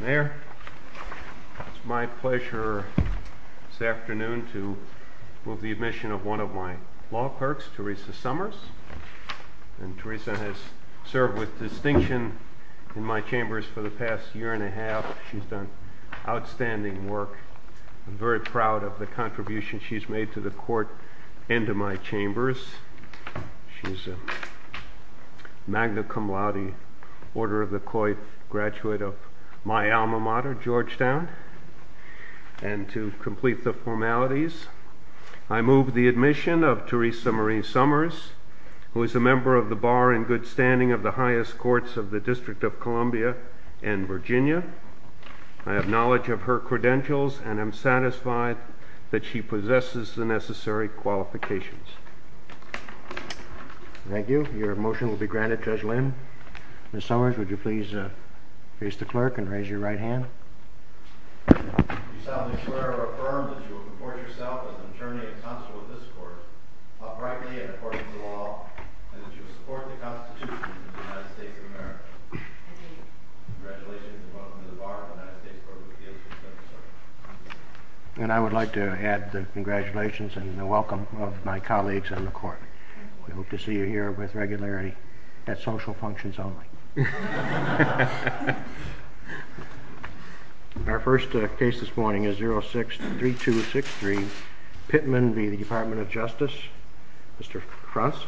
Mayer. It's my pleasure this afternoon to move the admission of one of my law perks, Teresa Summers. Teresa has served with distinction in my chambers for the past year and a half. She's done outstanding work. I'm very proud of the contribution she's made to the court and to my chambers. She's a magna cum laude Order of the Coit graduate of my alma mater, Georgetown. And to complete the formalities, I move the admission of Teresa Marie Summers, who is a member of the bar in good standing of the highest courts of the District of Columbia and Virginia. I have knowledge of her credentials and I'm satisfied that she possesses the necessary qualifications. Thank you. Your motion will be granted. Judge Lynn Summers, would you please raise the clerk and raise your right hand? And I would like to add the congratulations and the welcome of my colleagues in the court. We hope to see you here with regularity at social functions only. Our first case this morning is 06-3263 Pittman v. The Department of Justice. Mr. Fruntz.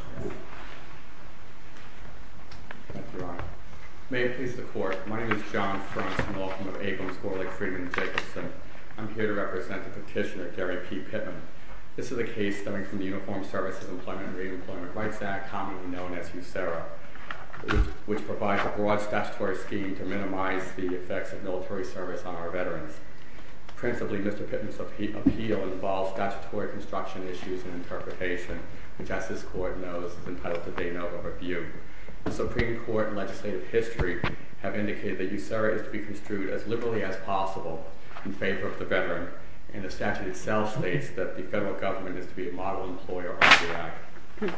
May it please the court. My name is John Fruntz and I'm here to represent the petitioner, Gary P. Pittman. This is a case stemming from the Uniformed Services Employment and Reemployment Rights Act, commonly known as USERRA, which provides a broad statutory scheme to minimize the effects of military service on our veterans. Principally, Mr. Pittman's appeal involves statutory construction issues and interpretation, which as this court knows is entitled to date of a review. The Supreme Court and legislative history have indicated that USERRA is to be construed as liberally as possible in favor of the veteran. And the statute itself states that federal government is to be a model employer.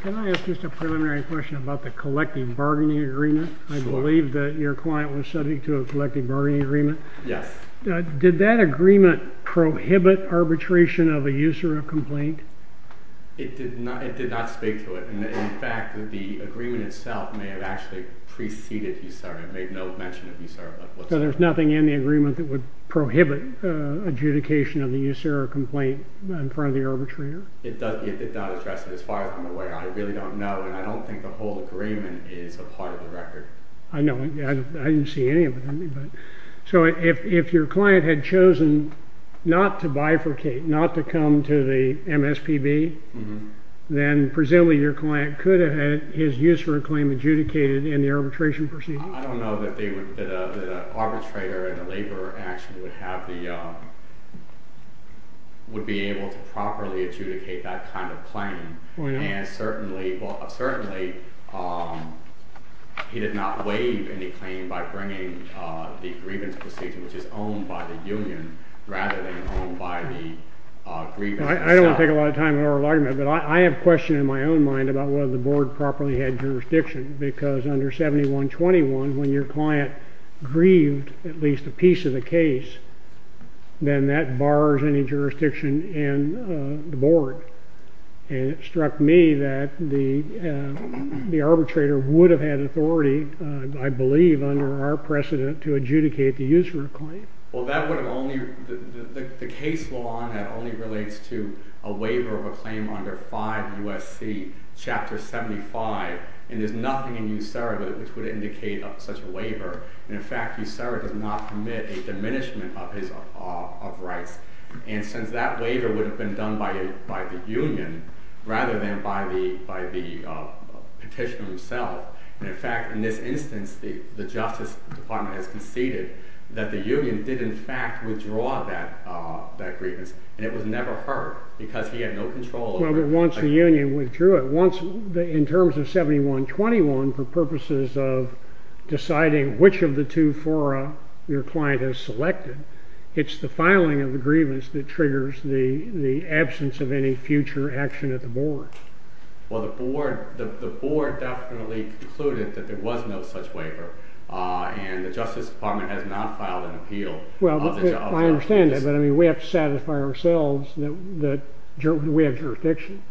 Can I ask just a preliminary question about the collective bargaining agreement? I believe that your client was subject to a collective bargaining agreement. Yes. Did that agreement prohibit arbitration of a USERRA complaint? It did not speak to it. In fact, the agreement itself may have actually preceded USERRA and made no mention of USERRA. So there's nothing in the agreement that would prohibit adjudication of the USERRA complaint in front of the arbitrator? It does not address it as far as I'm aware. I really don't know and I don't think the whole agreement is a part of the record. I know. I didn't see any of it. So if your client had chosen not to bifurcate, not to come to the MSPB, then presumably your client could have had his USERRA claim adjudicated in the arbitration proceedings? I don't know that an arbitrator in a labor action would be able to properly adjudicate that kind of claim. And certainly he did not waive any claim by bringing the grievance procedure, which is owned by the union, rather than owned by the grievance. I don't want to take a lot of time in oral argument, but I have a question in my own mind about whether the board properly had jurisdiction because under 7121 when your client grieved at least a piece of the case, then that bars any jurisdiction in the board. And it struck me that the arbitrator would have had authority, I believe, under our precedent to adjudicate the USERRA claim. Well that would have only, the case law that only relates to a waiver of a claim under 5 U.S.C. Chapter 75, and there's nothing in USERRA which would indicate such a waiver. And in fact USERRA does not commit a diminishment of his rights. And since that waiver would have been done by the union rather than by the petitioner himself, and in fact in this instance the Justice Department has conceded that the union did in fact withdraw that grievance, and it was never heard because he had no control over it. Once the union withdrew it, once in terms of 7121 for purposes of deciding which of the two fora your client has selected, it's the filing of the grievance that triggers the absence of any future action at the board. Well the board definitely concluded that there was no such waiver, and the Justice Department has not filed an appeal. Well I understand that, but I mean we have to satisfy ourselves that we have jurisdiction.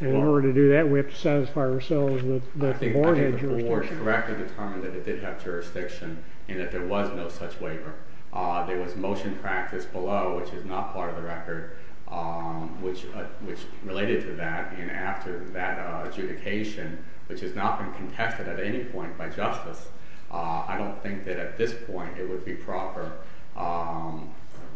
In order to do that we have to satisfy ourselves that the board had jurisdiction. I think the board correctly determined that it did have jurisdiction and that there was no such waiver. There was motion practice below, which is not part of the record, which related to that, and after that adjudication, which has not been contested at any point by justice, I don't think that at this point it would be proper.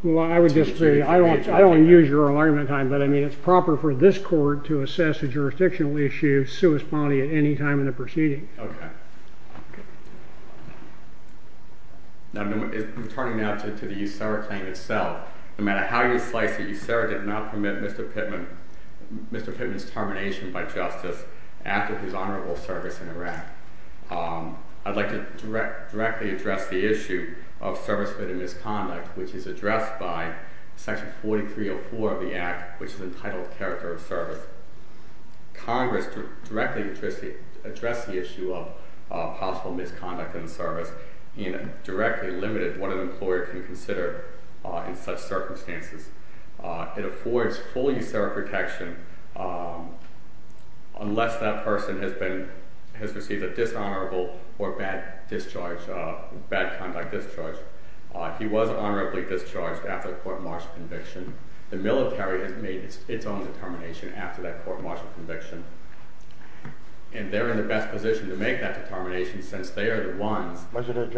Well I would disagree. I don't use your alignment time, but I mean it's proper for this court to assess a jurisdictional issue sui sponte at any time in the proceeding. Okay. Now I'm turning now to the USERRA claim itself. No matter how you slice it, USERRA did not permit Mr. Pittman's termination by justice after his honorable service in Iraq. I'd like to directly address the issue of service fit and misconduct, which is addressed by section 4304 of the act, which is entitled character of service. Congress directly addressed the issue of possible misconduct in the service and directly limited what an employer can consider in such circumstances. It affords full USERRA protection unless that person has received a dishonorable or bad discharge, bad conduct discharge. If he was honorably discharged after a court martial conviction, the military has made its own determination after that court martial conviction, and they're in the best position to make that determination since they are the ones. Was it an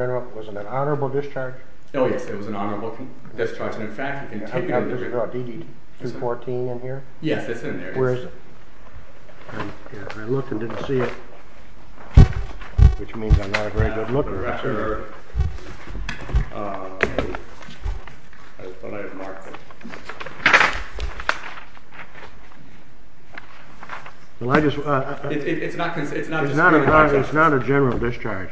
honorable discharge? Oh yes, it was an honorable discharge, and in fact DD-214 in here? Yes, it's in there. Where is it? I looked and didn't see it, which means I'm not a very good looker. It's not a general discharge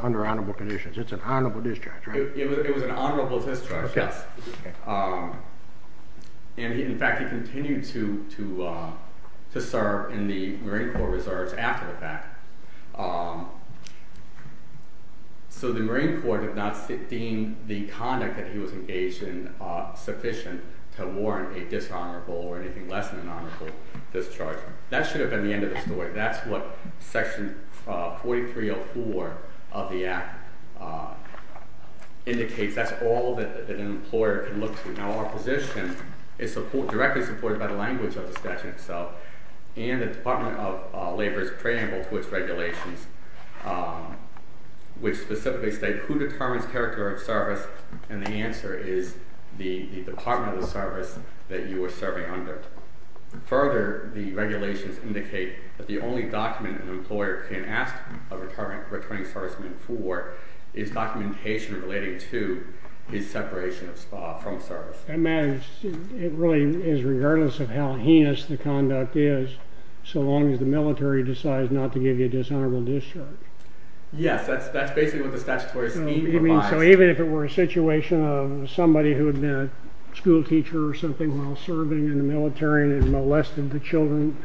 under honorable conditions. It's an honorable discharge, right? It was an honorable discharge, yes, and in fact he continued to serve in the Marine Corps Reserves after the fact. So the Marine Corps did not deem the conduct that he was engaged in sufficient to warrant a dishonorable or anything less than an honorable discharge. That should have been the end of the story. That's what section 4304 of the act indicates. That's all that an employer can look to. Now our position is directly supported by the language of the statute itself and the Department of Labor's preamble to its regulations, which specifically state who determines character of service, and the answer is the department of the service that you are serving under. Further, the regulations indicate that the only document an employer can ask a returning serviceman for is documentation relating to his separation from service. It really is regardless of how heinous the conduct is, so long as the military decides not to give you a dishonorable discharge. Yes, that's basically what the statutory scheme provides. So even if it were a situation of somebody who had been a school teacher or something while and molested the children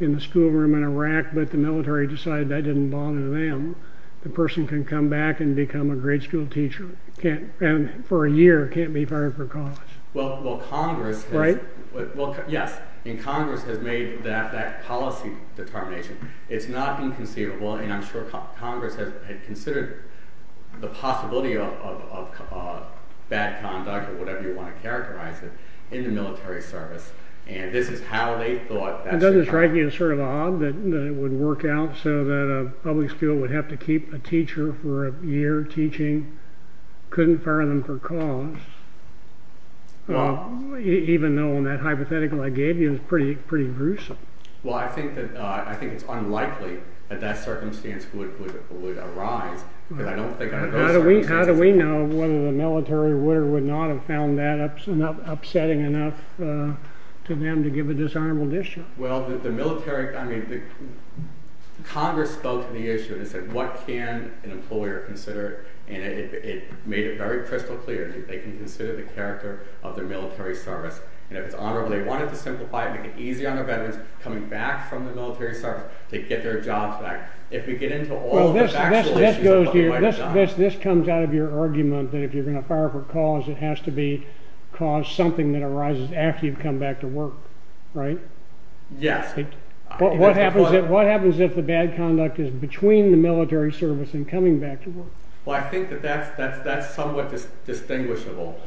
in the school room in Iraq, but the military decided that didn't bother them, the person can come back and become a great school teacher and for a year can't be fired for college. Well, Congress has made that policy determination. It's not inconceivable, and I'm sure Congress has considered the possibility of bad conduct or whatever you want to characterize it in the military service, and this is how they thought. It doesn't strike you as sort of odd that it would work out so that a public school would have to keep a teacher for a year teaching, couldn't fire them for cause, even though that hypothetical I gave you is pretty gruesome. Well, I think it's unlikely that that circumstance would arise. How do we know whether the military would or would not have found that upsetting enough to them to give a dishonorable discharge? Well, the military, I mean, Congress spoke to the issue. They said, what can an employer consider, and it made it very crystal clear that they can consider the character of their military service, and if it's honorable, they want it to simplify it, make it easy on their veterans coming back from the military service to get their jobs back. If we get into all the factual issues of what we This comes out of your argument that if you're going to fire for cause, it has to be cause something that arises after you've come back to work, right? Yes. What happens if the bad conduct is between the military service and coming back to work? Well, I think that that's somewhat distinguishable,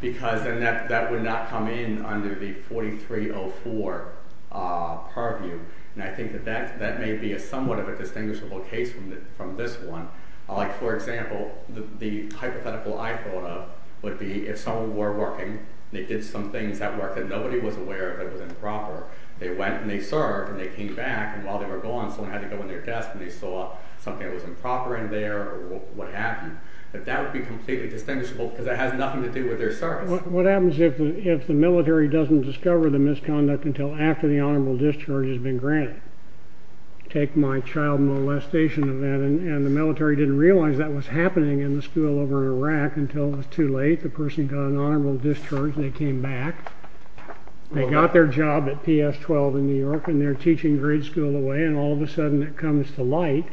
because then that would not come in under the 4304 purview, and I think that may be somewhat of a distinguishable case from this one. Like, for example, the hypothetical I thought of would be if someone were working, they did some things at work that nobody was aware of that was improper. They went and they served and they came back, and while they were gone, someone had to go in their desk and they saw something that was improper in there or what happened. That would be completely distinguishable because it has nothing to do with their service. What happens if the military doesn't discover the misconduct until after the honorable discharge has been granted? Take my child molestation event, and the military didn't realize that was happening in the school over in Iraq until it was too late. The person got an honorable discharge, they came back, they got their job at PS-12 in New York, and they're teaching grade school away, and all of a sudden it comes to light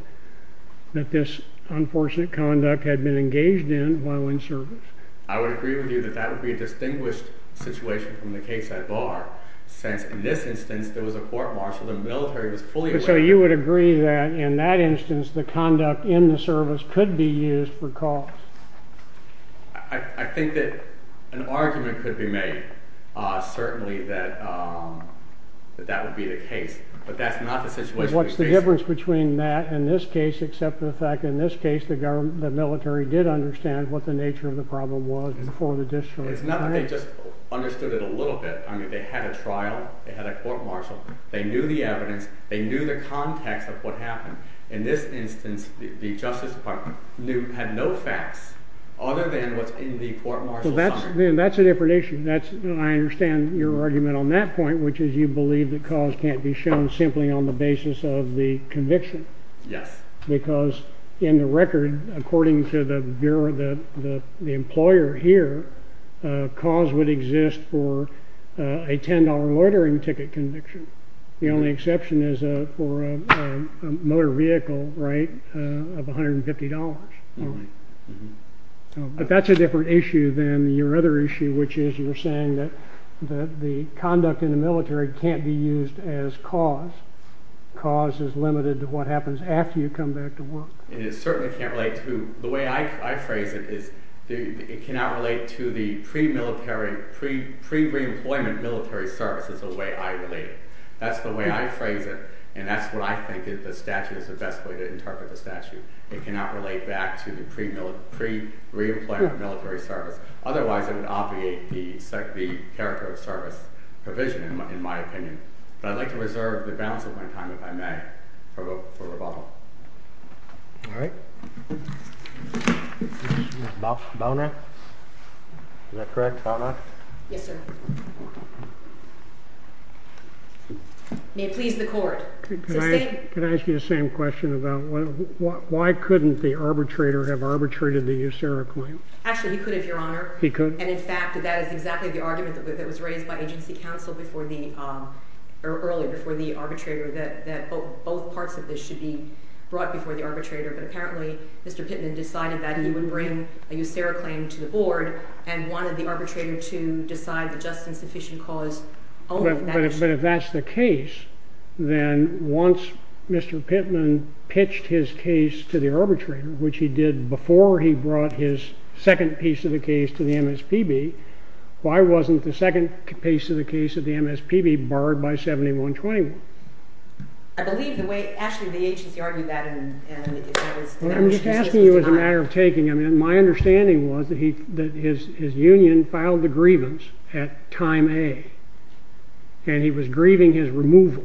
that this unfortunate conduct had been engaged in while in service. I would agree with you that that would be a distinguished situation from the case I bar, since in this instance there was a court-martial, the military was fully aware. So you would agree that in that instance the conduct in the service could be used for cause? I think that an argument could be made, certainly, that that would be the case, but that's not the situation. What's the difference between that and this case except for the fact in this case the military did understand what the nature of the problem was before the discharge? It's not that they just understood it a little bit. I mean, they had a trial, they had a court-martial, they knew the evidence, they knew the context of what happened. In this instance, the Justice Department had no facts other than what's in the court-martial summary. That's a different issue. I understand your argument on that point, which is you believe that cause can't be shown simply on the basis of the conviction. Yes. Because in the record, according to the employer here, cause would exist for a $10 loitering ticket conviction. The only exception is for a motor vehicle, right, of $150. But that's a different issue than your other issue, which is you're saying that the conduct in the military can't be used as cause. Cause is limited to what happens after you come back to work. And it certainly can't relate to—the way I phrase it is it cannot relate to the pre-reemployment military service is the way I relate it. That's the way I phrase it, and that's what I think the statute is the best way to interpret the statute. It cannot relate back to the pre-reemployment military service. Otherwise, it would obviate the character of service provision, in my opinion. But I'd like to reserve the balance of my time, if I may, for rebuttal. All right. Bownack? Is that correct? Bownack? Yes, sir. May it please the court. Can I ask you the same question about why couldn't the arbitrator have arbitrated the USERRA claim? Actually, he could have, Your Honor. He could? And in fact, that is exactly the argument that was raised by agency counsel before the earlier, before the arbitrator, that both parts of this should be brought before the arbitrator. But apparently, Mr. Pittman decided that he would bring a USERRA claim to the board and wanted the arbitrator to decide the just and sufficient cause only from that— But if that's the case, then once Mr. Pittman pitched his case to the arbitrator, which he did before he brought his second piece of the case to the MSPB, why wasn't the second piece of the case of the MSPB barred by 7121? I believe the way—actually, the agency argued that, and if that was— I'm just asking you as a matter of taking. I mean, my understanding was that his union filed the grievance at time A, and he was grieving his removal,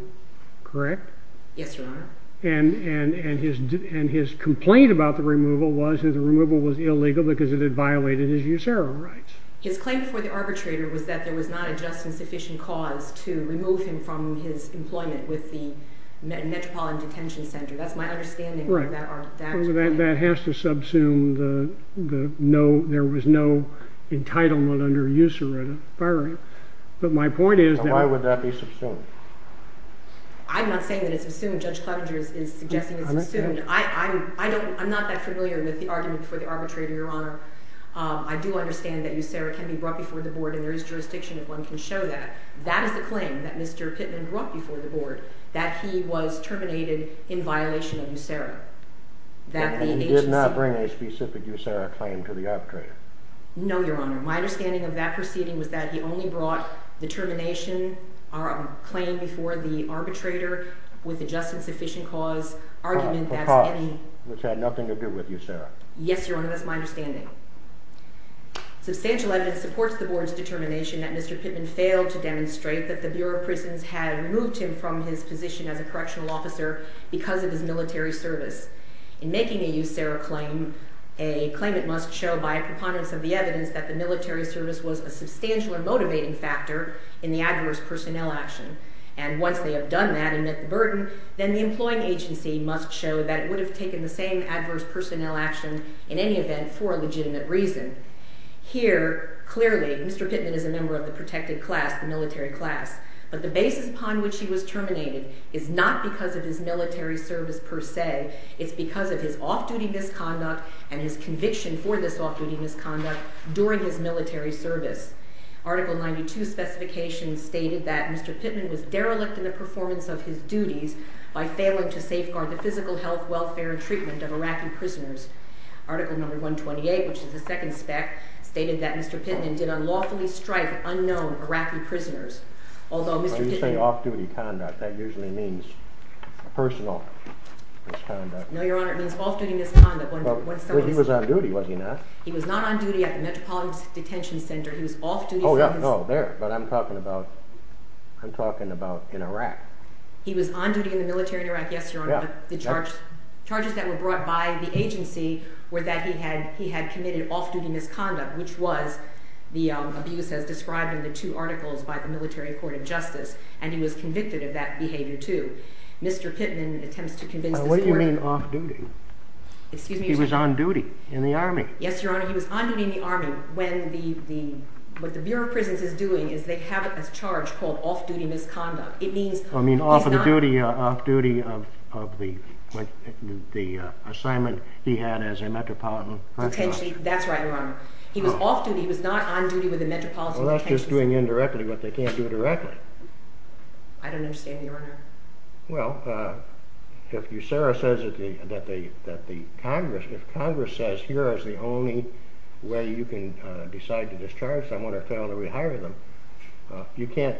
correct? Yes, Your Honor. And his complaint about the removal was that the removal was illegal because it had violated his USERRA rights. His claim before the arbitrator was that there was not a just and sufficient cause to remove him from his employment with the Metropolitan Detention Center. That's my understanding of that argument. That has to subsume the no—there was no entitlement under USERRA. But my point is— Why would that be subsumed? I'm not saying that it's subsumed. Judge Clevenger is suggesting it's subsumed. I'm not that familiar with the argument before the arbitrator, Your Honor. I do understand that USERRA can be brought before the board, and there is jurisdiction if one can show that. That is the claim, that Mr. Pittman brought before the board, that he was terminated in violation of USERRA. That the agency— And he did not bring a specific USERRA claim to the arbitrator? No, Your Honor. My understanding of that proceeding was that he only brought the termination—or a claim before the arbitrator with a just and sufficient cause argument— A cause which had nothing to do with USERRA. Yes, Your Honor. That's my understanding. Substantial evidence supports the board's determination that Mr. Pittman failed to demonstrate that the Bureau of Prisons had removed him from his position as a correctional officer because of his military service. In making a USERRA claim, a claimant must show by a preponderance of the evidence that the military service was a substantial and motivating factor in the adverse personnel action. And once they have done that and met the burden, then the employing agency must show that it would have taken the same adverse personnel action in any event for a legitimate reason. Here, clearly, Mr. Pittman is a member of the protected class, the military class. But the basis upon which he was terminated is not because of his military service per se. It's because of his off-duty misconduct and his conviction for this off-duty misconduct during his military service. Article 92 specifications stated that Mr. Pittman was derelict in the performance of his duties by failing to safeguard the physical health, welfare, and treatment of Iraqi prisoners. Article number 128, which is the second spec, stated that Mr. Pittman did unlawfully strike at unknown Iraqi prisoners. Although Mr. Pittman... When you say off-duty conduct, that usually means personal misconduct. No, Your Honor. It means off-duty misconduct. He was on duty, was he not? He was not on duty at the Metropolitan Detention Center. He was off-duty... But I'm talking about in Iraq. He was on duty in the military in Iraq, yes, Your Honor. But the charges that were brought by the agency were that he had committed off-duty misconduct, which was the abuse as described in the two articles by the Military Court of Justice. And he was convicted of that behavior, too. Mr. Pittman attempts to convince the court... What do you mean off-duty? He was on duty in the Army. Yes, Your Honor. He was on duty in the Army when what the Bureau of Prisons is doing is they have a charge called off-duty misconduct. It means... Oh, you mean off-duty of the assignment he had as a Metropolitan Detention Officer? That's right, Your Honor. He was off-duty. He was not on duty with the Metropolitan Detention Center. Well, that's just doing indirectly what they can't do directly. I don't understand, Your Honor. Well, if Sarah says that the Congress, if Congress says here is the only way you can decide to discharge someone or fail to rehire them, you can't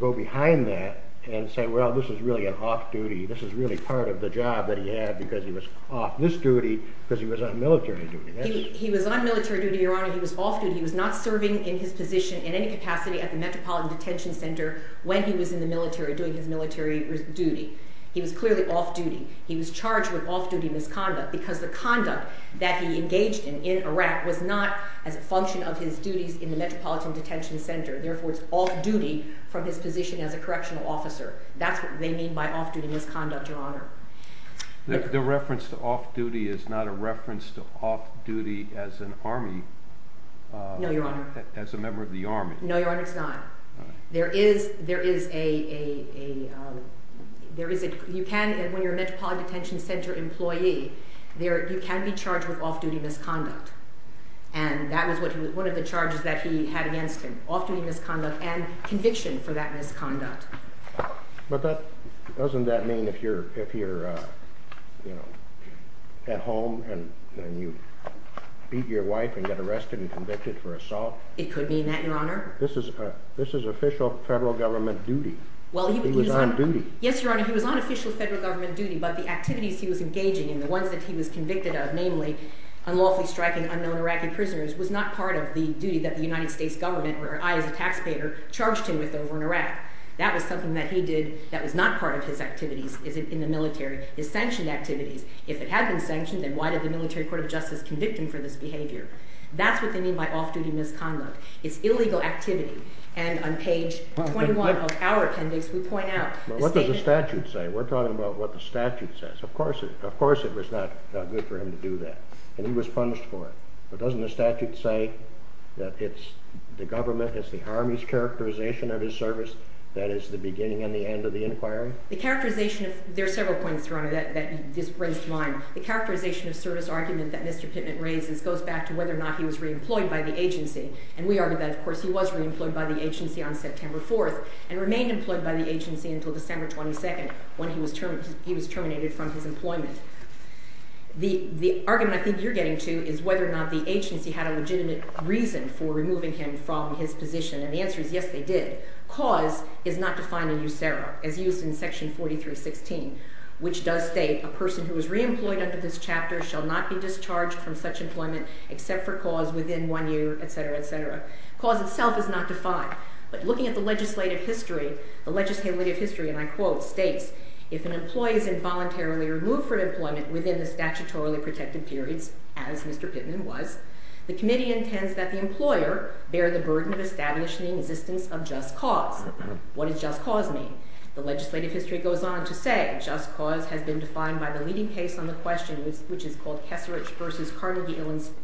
go behind that and say, well, this is really an off-duty. This is really part of the job that he had because he was off this duty because he was on military duty. He was on military duty, Your Honor. He was off-duty. He was not serving in his position in any capacity at the Metropolitan Detention Center when he was in the military doing his duty. He was clearly off-duty. He was charged with off-duty misconduct because the conduct that he engaged in in Iraq was not as a function of his duties in the Metropolitan Detention Center. Therefore, it's off-duty from his position as a correctional officer. That's what they mean by off-duty misconduct, Your Honor. The reference to off-duty is not a reference to off-duty as an army... No, Your Honor. ...as a member of the army. No, Your Honor, it's not. When you're a Metropolitan Detention Center employee, you can be charged with off-duty misconduct. That was one of the charges that he had against him, off-duty misconduct and conviction for that misconduct. But doesn't that mean if you're at home and you beat your wife and get arrested and convicted for assault? It could mean that, Your Honor. This is official federal government duty. He was on duty. Yes, Your Honor, he was on official federal government duty, but the activities he was engaging in, the ones that he was convicted of, namely unlawfully striking unknown Iraqi prisoners, was not part of the duty that the United States government, where I as a taxpayer, charged him with over in Iraq. That was something that he did that was not part of his activities in the military, his sanctioned activities. If it had been sanctioned, then why did the Military Court of Justice convict him for this behavior? That's what they mean by off-duty misconduct. It's illegal activity. And on page 21 of our appendix, we point out the statement- But what does the statute say? We're talking about what the statute says. Of course it was not good for him to do that, and he was punished for it. But doesn't the statute say that it's the government, it's the Army's characterization of his service that is the beginning and the end of the inquiry? The characterization of... There are several points, Your Honor, that this brings to mind. The characterization of service argument that Mr. Pittman raises goes back to whether or not he was re-employed by the agency. And we argue that, of course, he was re-employed by the agency on September 4th, and remained employed by the agency until December 22nd, when he was terminated from his employment. The argument I think you're getting to is whether or not the agency had a legitimate reason for removing him from his position, and the answer is yes, they did. Cause is not defined in USERRA, as used in Section 4316, which does state a person who is re-employed under this chapter shall not be discharged from such employment except for cause within one year, etc., etc. Cause itself is not defined. But looking at the legislative history, the legislative history, and I quote, states, if an employee is involuntarily removed from employment within the statutorily protected periods, as Mr. Pittman was, the committee intends that the employer bear the burden of establishing the existence of just cause. What does just cause mean? The legislative history goes on to say, just cause has been defined by the leading case on the question, which is called Kesserich v. Carnegie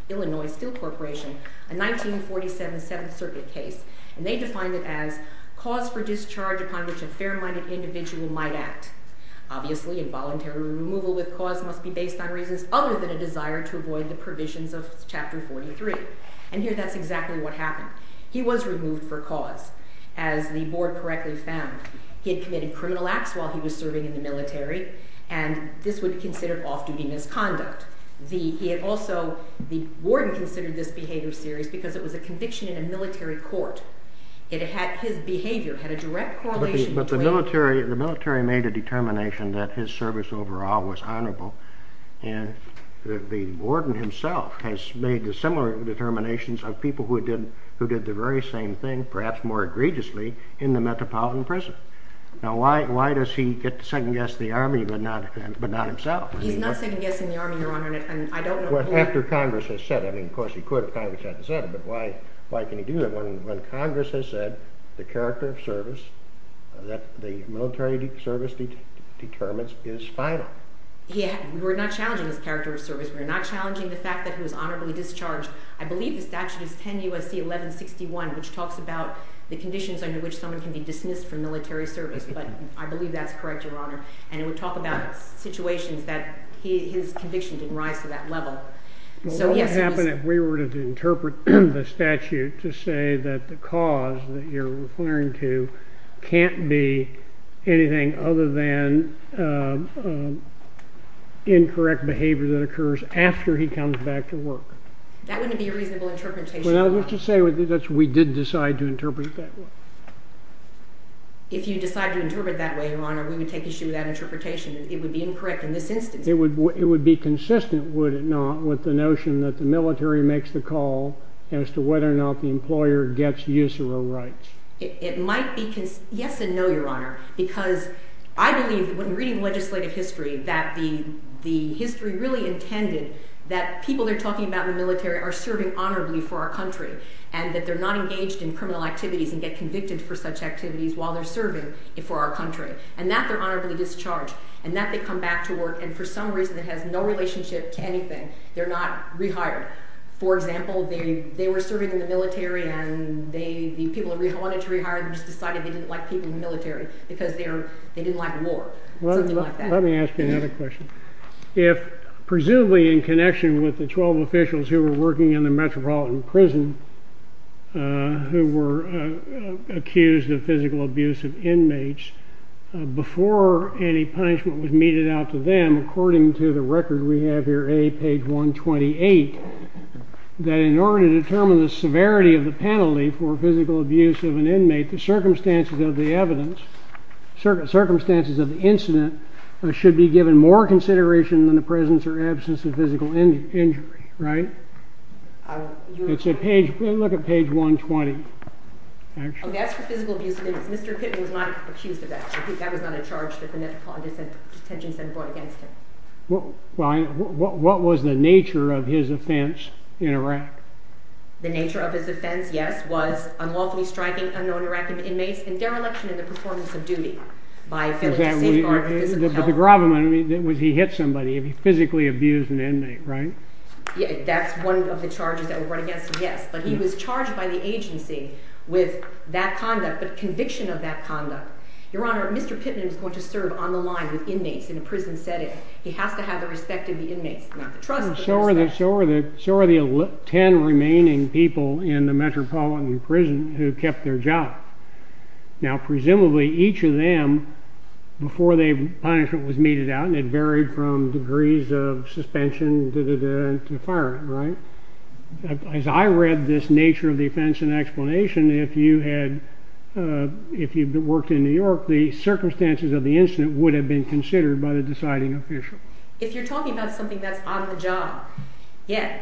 Illinois Steel Corporation, a 1947 Seventh Circuit case, and they defined it as cause for discharge upon which a fair-minded individual might act. Obviously involuntary removal with cause must be based on reasons other than a desire to avoid the provisions of Chapter 43, and here that's exactly what happened. He was removed for cause, as the board correctly found. He had this would be considered off-duty misconduct. He had also, the warden considered this behavior serious because it was a conviction in a military court. His behavior had a direct correlation between- But the military made a determination that his service overall was honorable, and the warden himself has made the similar determinations of people who did the very same thing, perhaps more egregiously, in the Metropolitan Prison. Now why does he second the Army but not himself? He's not second-guessing the Army, Your Honor, and I don't know- After Congress has said it, I mean, of course he could if Congress hadn't said it, but why can he do that when Congress has said the character of service that the military service determines is final? Yeah, we're not challenging his character of service. We're not challenging the fact that he was honorably discharged. I believe the statute is 10 U.S.C. 1161, which talks about the conditions under which someone can be dismissed from military service, but I believe that's correct, Your Honor, and it would talk about situations that his conviction didn't rise to that level, so yes- What would happen if we were to interpret the statute to say that the cause that you're referring to can't be anything other than incorrect behavior that occurs after he comes back to work? That wouldn't be a reasonable interpretation- Well, I was going to say, if we were to interpret it that way, Your Honor, we would take issue with that interpretation. It would be incorrect in this instance. It would be consistent, would it not, with the notion that the military makes the call as to whether or not the employer gets usury rights? It might be- Yes and no, Your Honor, because I believe, when reading legislative history, that the history really intended that people they're talking about in the military are serving honorably for our country and that they're not engaged in criminal activities and get convicted for such activities while they're serving for our country and that they're honorably discharged and that they come back to work and for some reason it has no relationship to anything. They're not rehired. For example, they were serving in the military and the people who wanted to rehire them just decided they didn't like people in the military because they didn't like war or something like that. Let me ask you another question. If, presumably in connection with the 12 officials who were working in the metropolitan prison who were accused of physical abuse of inmates, before any punishment was meted out to them, according to the record we have here, A, page 128, that in order to determine the severity of the penalty for physical abuse of an inmate, the circumstances of the evidence, circumstances of the incident should be given more consideration than the presence or absence of physical injury, right? It's a page, look at page 120. That's for physical abuse of inmates. Mr. Pittman was not accused of that. That was not a charge that the Metropolitan Detention Center brought against him. What was the nature of his offense in Iraq? The nature of his offense, yes, was unlawfully striking unknown Iraqi inmates in their election in the performance of duty. But the gravamen was he hit somebody, he physically abused an inmate, right? Yeah, that's one of the charges that were brought against him, yes, but he was charged by the agency with that conduct, but conviction of that conduct. Your honor, Mr. Pittman is going to serve on the line with inmates in a prison setting. He has to have the respect of the inmates, not the trust, but the respect. So are the ten remaining people in the metropolitan prison who kept their job? Now, presumably, each of them, before the punishment was meted out, and it varied from degrees of suspension to firing, right? As I read this nature of the offense and explanation, if you had, if you've worked in New York, the circumstances of the incident would have been considered by the deciding official. If you're talking about something that's on the job, yeah,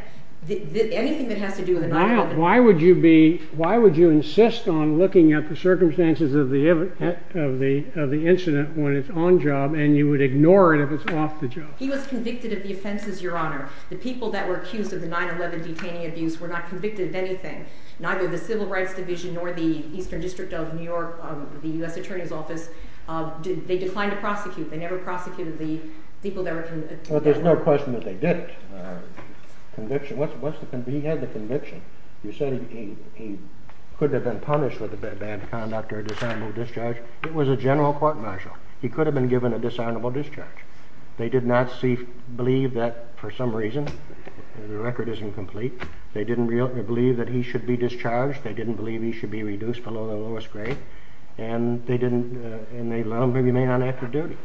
anything that has to do with it. Why would you be, why would you insist on looking at the circumstances of the incident when it's on job and you would ignore it if it's off the job? He was convicted of the offenses, your honor. The people that were accused of the 9-11 detaining abuse were not convicted of anything. Neither the Civil Rights Division nor the Eastern District of New York, the U.S. Attorney's Office, they declined to prosecute. They never prosecuted the people Well, there's no question that they didn't. Conviction, what's the, he had the conviction. You said he could have been punished with bad conduct or a disarmable discharge. It was a general court martial. He could have been given a disarmable discharge. They did not see, believe that for some reason, the record isn't complete, they didn't really believe that he should be discharged, they didn't believe he should be reduced below the lowest grade, and they didn't, and they allowed him to be made on active duty.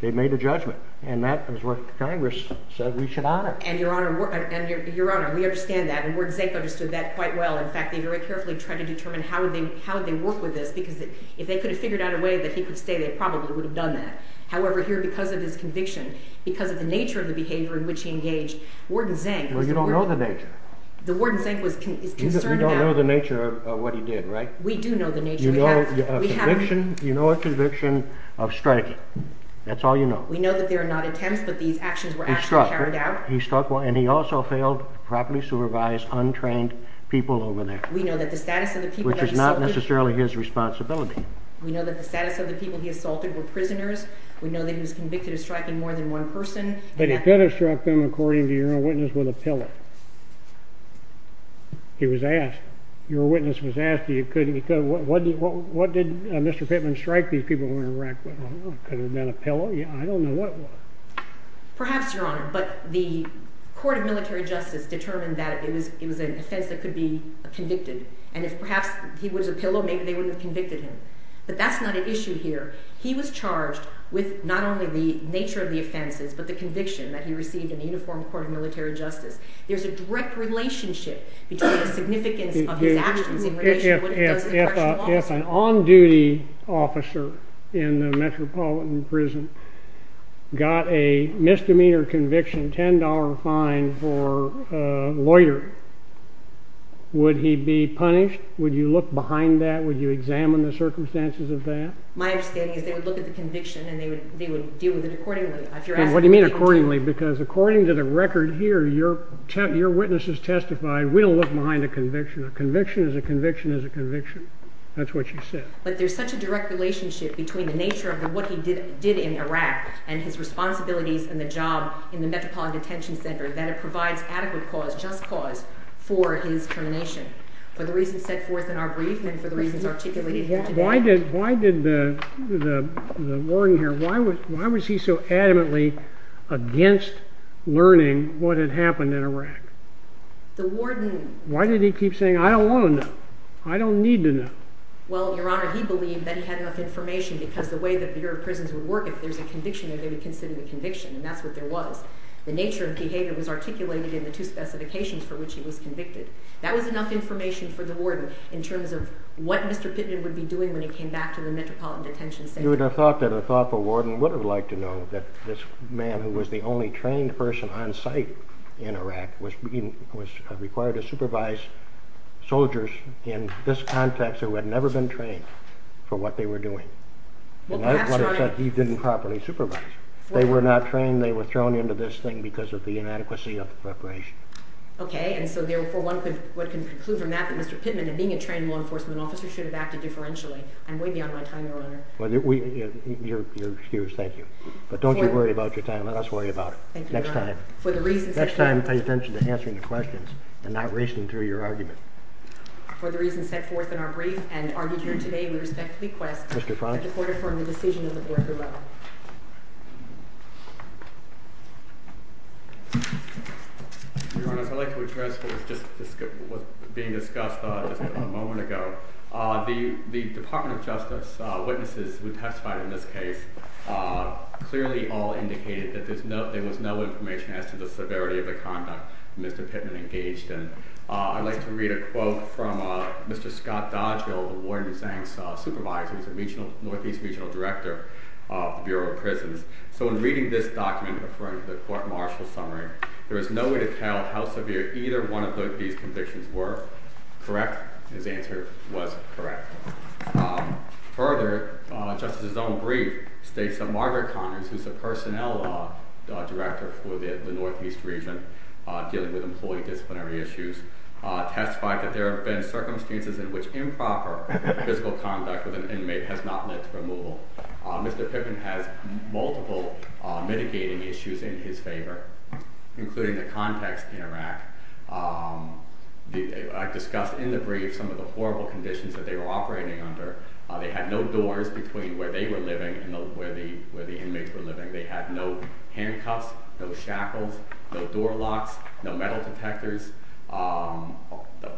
They made a judgment, and that is what Congress said we should honor. And your honor, we understand that, and Warden Zank understood that quite well. In fact, they very carefully tried to determine how would they work with this, because if they could have figured out a way that he could stay, they probably would have done that. However, here, because of his conviction, because of the nature of the behavior in which he engaged, Warden Zank... Well, you don't know the nature. The Warden Zank was concerned about... We don't know the nature of what he did, right? We do know the nature. You know of conviction, you know of conviction of striking. That's all you know. We know that they are not attempts, but these actions were actually carried out. He struck one, and he also failed properly supervised, untrained people over there. We know that the status of the people... Which is not necessarily his responsibility. We know that the status of the people he assaulted were prisoners. We know that he was convicted of striking more than one person. But he could have struck them, your witness was asked if he could have. What did Mr. Pittman strike these people who were in Iraq with? I don't know. Could it have been a pillow? I don't know what it was. Perhaps, Your Honor, but the Court of Military Justice determined that it was an offense that could be convicted, and if perhaps he was a pillow, maybe they wouldn't have convicted him. But that's not an issue here. He was charged with not only the nature of the offenses, but the conviction that he received in the Uniform Court of Military Justice. There's a direct relationship between the significance of his actions in relation to what he does in the correctional office. If an on-duty officer in a metropolitan prison got a misdemeanor conviction, $10 fine for a lawyer, would he be punished? Would you look behind that? Would you examine the circumstances of that? My understanding is they would look at the conviction, and they would deal with it accordingly. What do you mean accordingly? Because according to the record here, your witnesses testified, we don't look behind a conviction. A conviction is a conviction is a conviction. That's what you said. But there's such a direct relationship between the nature of what he did in Iraq and his responsibilities and the job in the Metropolitan Detention Center that it provides adequate cause, just cause, for his termination. For the reasons set forth in our brief and for the record. Why was he so adamantly against learning what had happened in Iraq? Why did he keep saying, I don't want to know. I don't need to know. Well, Your Honor, he believed that he had enough information because the way the Bureau of Prisons would work, if there's a conviction, they would consider the conviction, and that's what there was. The nature of behavior was articulated in the two specifications for which he was convicted. That was enough information for the warden in terms of what Mr. Pittman would be doing when he came back to the Metropolitan Detention Center. You would have thought that a thoughtful warden would have liked to know that this man, who was the only trained person on site in Iraq, was required to supervise soldiers in this context who had never been trained for what they were doing. He didn't properly supervise. They were not trained, they were thrown into this thing because of the inadequacy of the preparation. Okay, and so therefore one could conclude from that that Mr. Pittman, in being a trained law enforcement officer, should have acted differentially on my time, Your Honor. You're excused, thank you. But don't you worry about your time, let us worry about it next time. Next time pay attention to answering the questions and not racing through your argument. For the reasons set forth in our brief and argued here today, we respectfully request that the Court affirm the decision of the Board of the Law. Your Honor, I'd like to address what was just being discussed a moment ago. The Department of Justice witnesses who testified in this case clearly all indicated that there was no information as to the severity of the conduct Mr. Pittman engaged in. I'd like to read a quote from Mr. Scott Dodgeville, the warden's supervisor. He's a Northeast Regional Director of the Bureau of Prisons. So in reading this document, referring to the court martial summary, there is no way to tell how severe either one of these convictions were. Correct? His answer was correct. Further, Justice' own brief states that Margaret Connors, who's a Personnel Director for the Northeast Region dealing with employee disciplinary issues, testified that there have been circumstances in which improper physical conduct with an inmate has not led to removal. Mr. Pittman has multiple mitigating issues in his favor, including the context in Iraq. I discussed in the brief some of the horrible conditions that they were operating under. They had no doors between where they were living and where the inmates were living. They had no handcuffs, no shackles, no door locks, no metal detectors.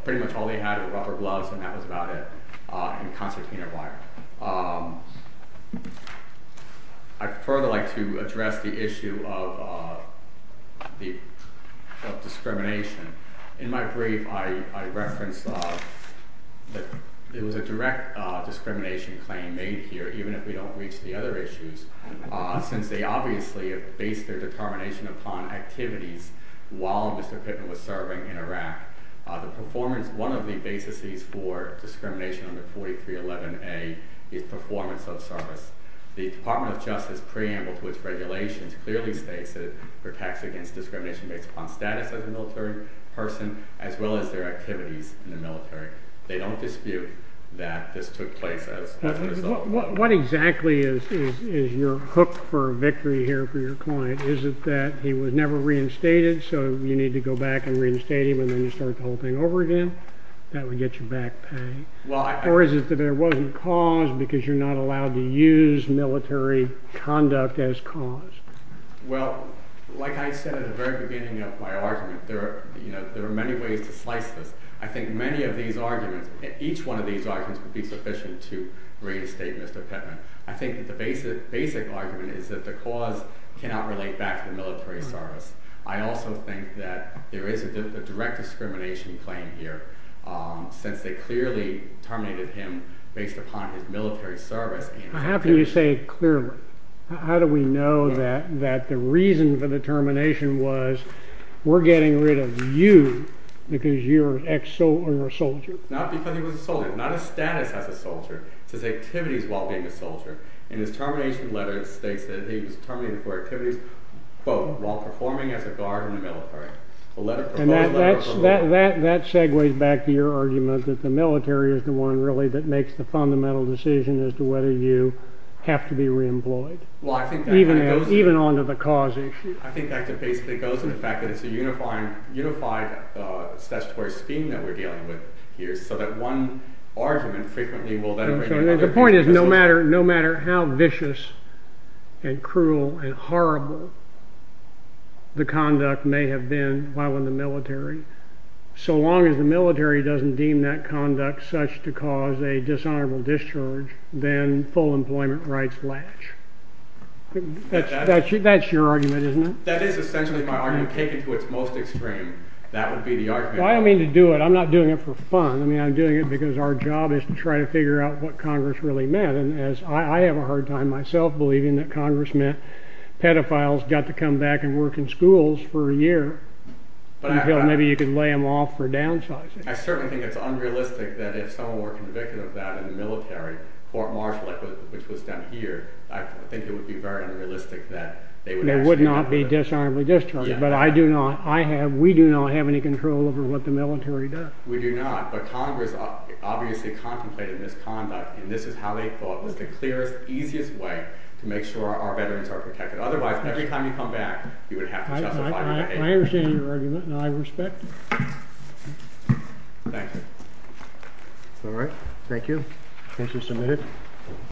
Pretty much all they had were rubber gloves, and that was about it, and concertina wire. I'd further like to address the issue of discrimination. In my brief, I referenced that it was a direct discrimination claim made here, even if we don't reach the other issues, since they obviously based their determination upon activities while Mr. Pittman was serving in Iraq. One of the basis for discrimination under 4311A is performance of service. The Department of Justice preamble to its regulations clearly states that it protects against discrimination based upon status as a military person, as well as their activities in the military. They don't dispute that this took place as a result. What exactly is your hook for victory here for your client? Is it that he was never reinstated, so you need to go back and reinstate him, and then you start the whole thing over again? That would get you back pay. Or is it that there wasn't cause because you're not allowed to use military conduct as cause? Well, like I said at the very beginning of my argument, there are many ways to slice this. I think many of these arguments, each one of these arguments would be sufficient to reinstate Mr. Pittman. I think that basic argument is that the cause cannot relate back to the military service. I also think that there is a direct discrimination claim here, since they clearly terminated him based upon his military service. How can you say clearly? How do we know that the reason for the termination was we're getting rid of you because you're an ex-soldier? Not because he was a soldier, not a status as a soldier, it's his activities while being a soldier. In his termination letter, it states that he was terminated for activities, quote, while performing as a guard in the military. And that segues back to your argument that the military is the one really that makes the fundamental decision as to whether you have to be reemployed, even onto the cause issue. I think that basically goes to the fact that it's a unified statutory scheme that we're dealing with so that one argument frequently will then... The point is, no matter how vicious and cruel and horrible the conduct may have been while in the military, so long as the military doesn't deem that conduct such to cause a dishonorable discharge, then full employment rights latch. That's your argument, isn't it? That is essentially my argument, taken to its most extreme. That would be the argument. I don't mean to do it. I'm not doing it for fun. I'm doing it because our job is to try to figure out what Congress really meant. I have a hard time myself believing that Congress meant pedophiles got to come back and work in schools for a year until maybe you could lay them off for downsizing. I certainly think it's unrealistic that if someone were convicted of that in the military, Fort Marshall, which was down here, I think it would be very But I do not. We do not have any control over what the military does. We do not. But Congress obviously contemplated this conduct, and this is how they thought was the clearest, easiest way to make sure our veterans are protected. Otherwise, every time you come back, you would have to justify that. I understand your argument, and I respect it. Thank you. All right. Thank you. Thank you for submitting.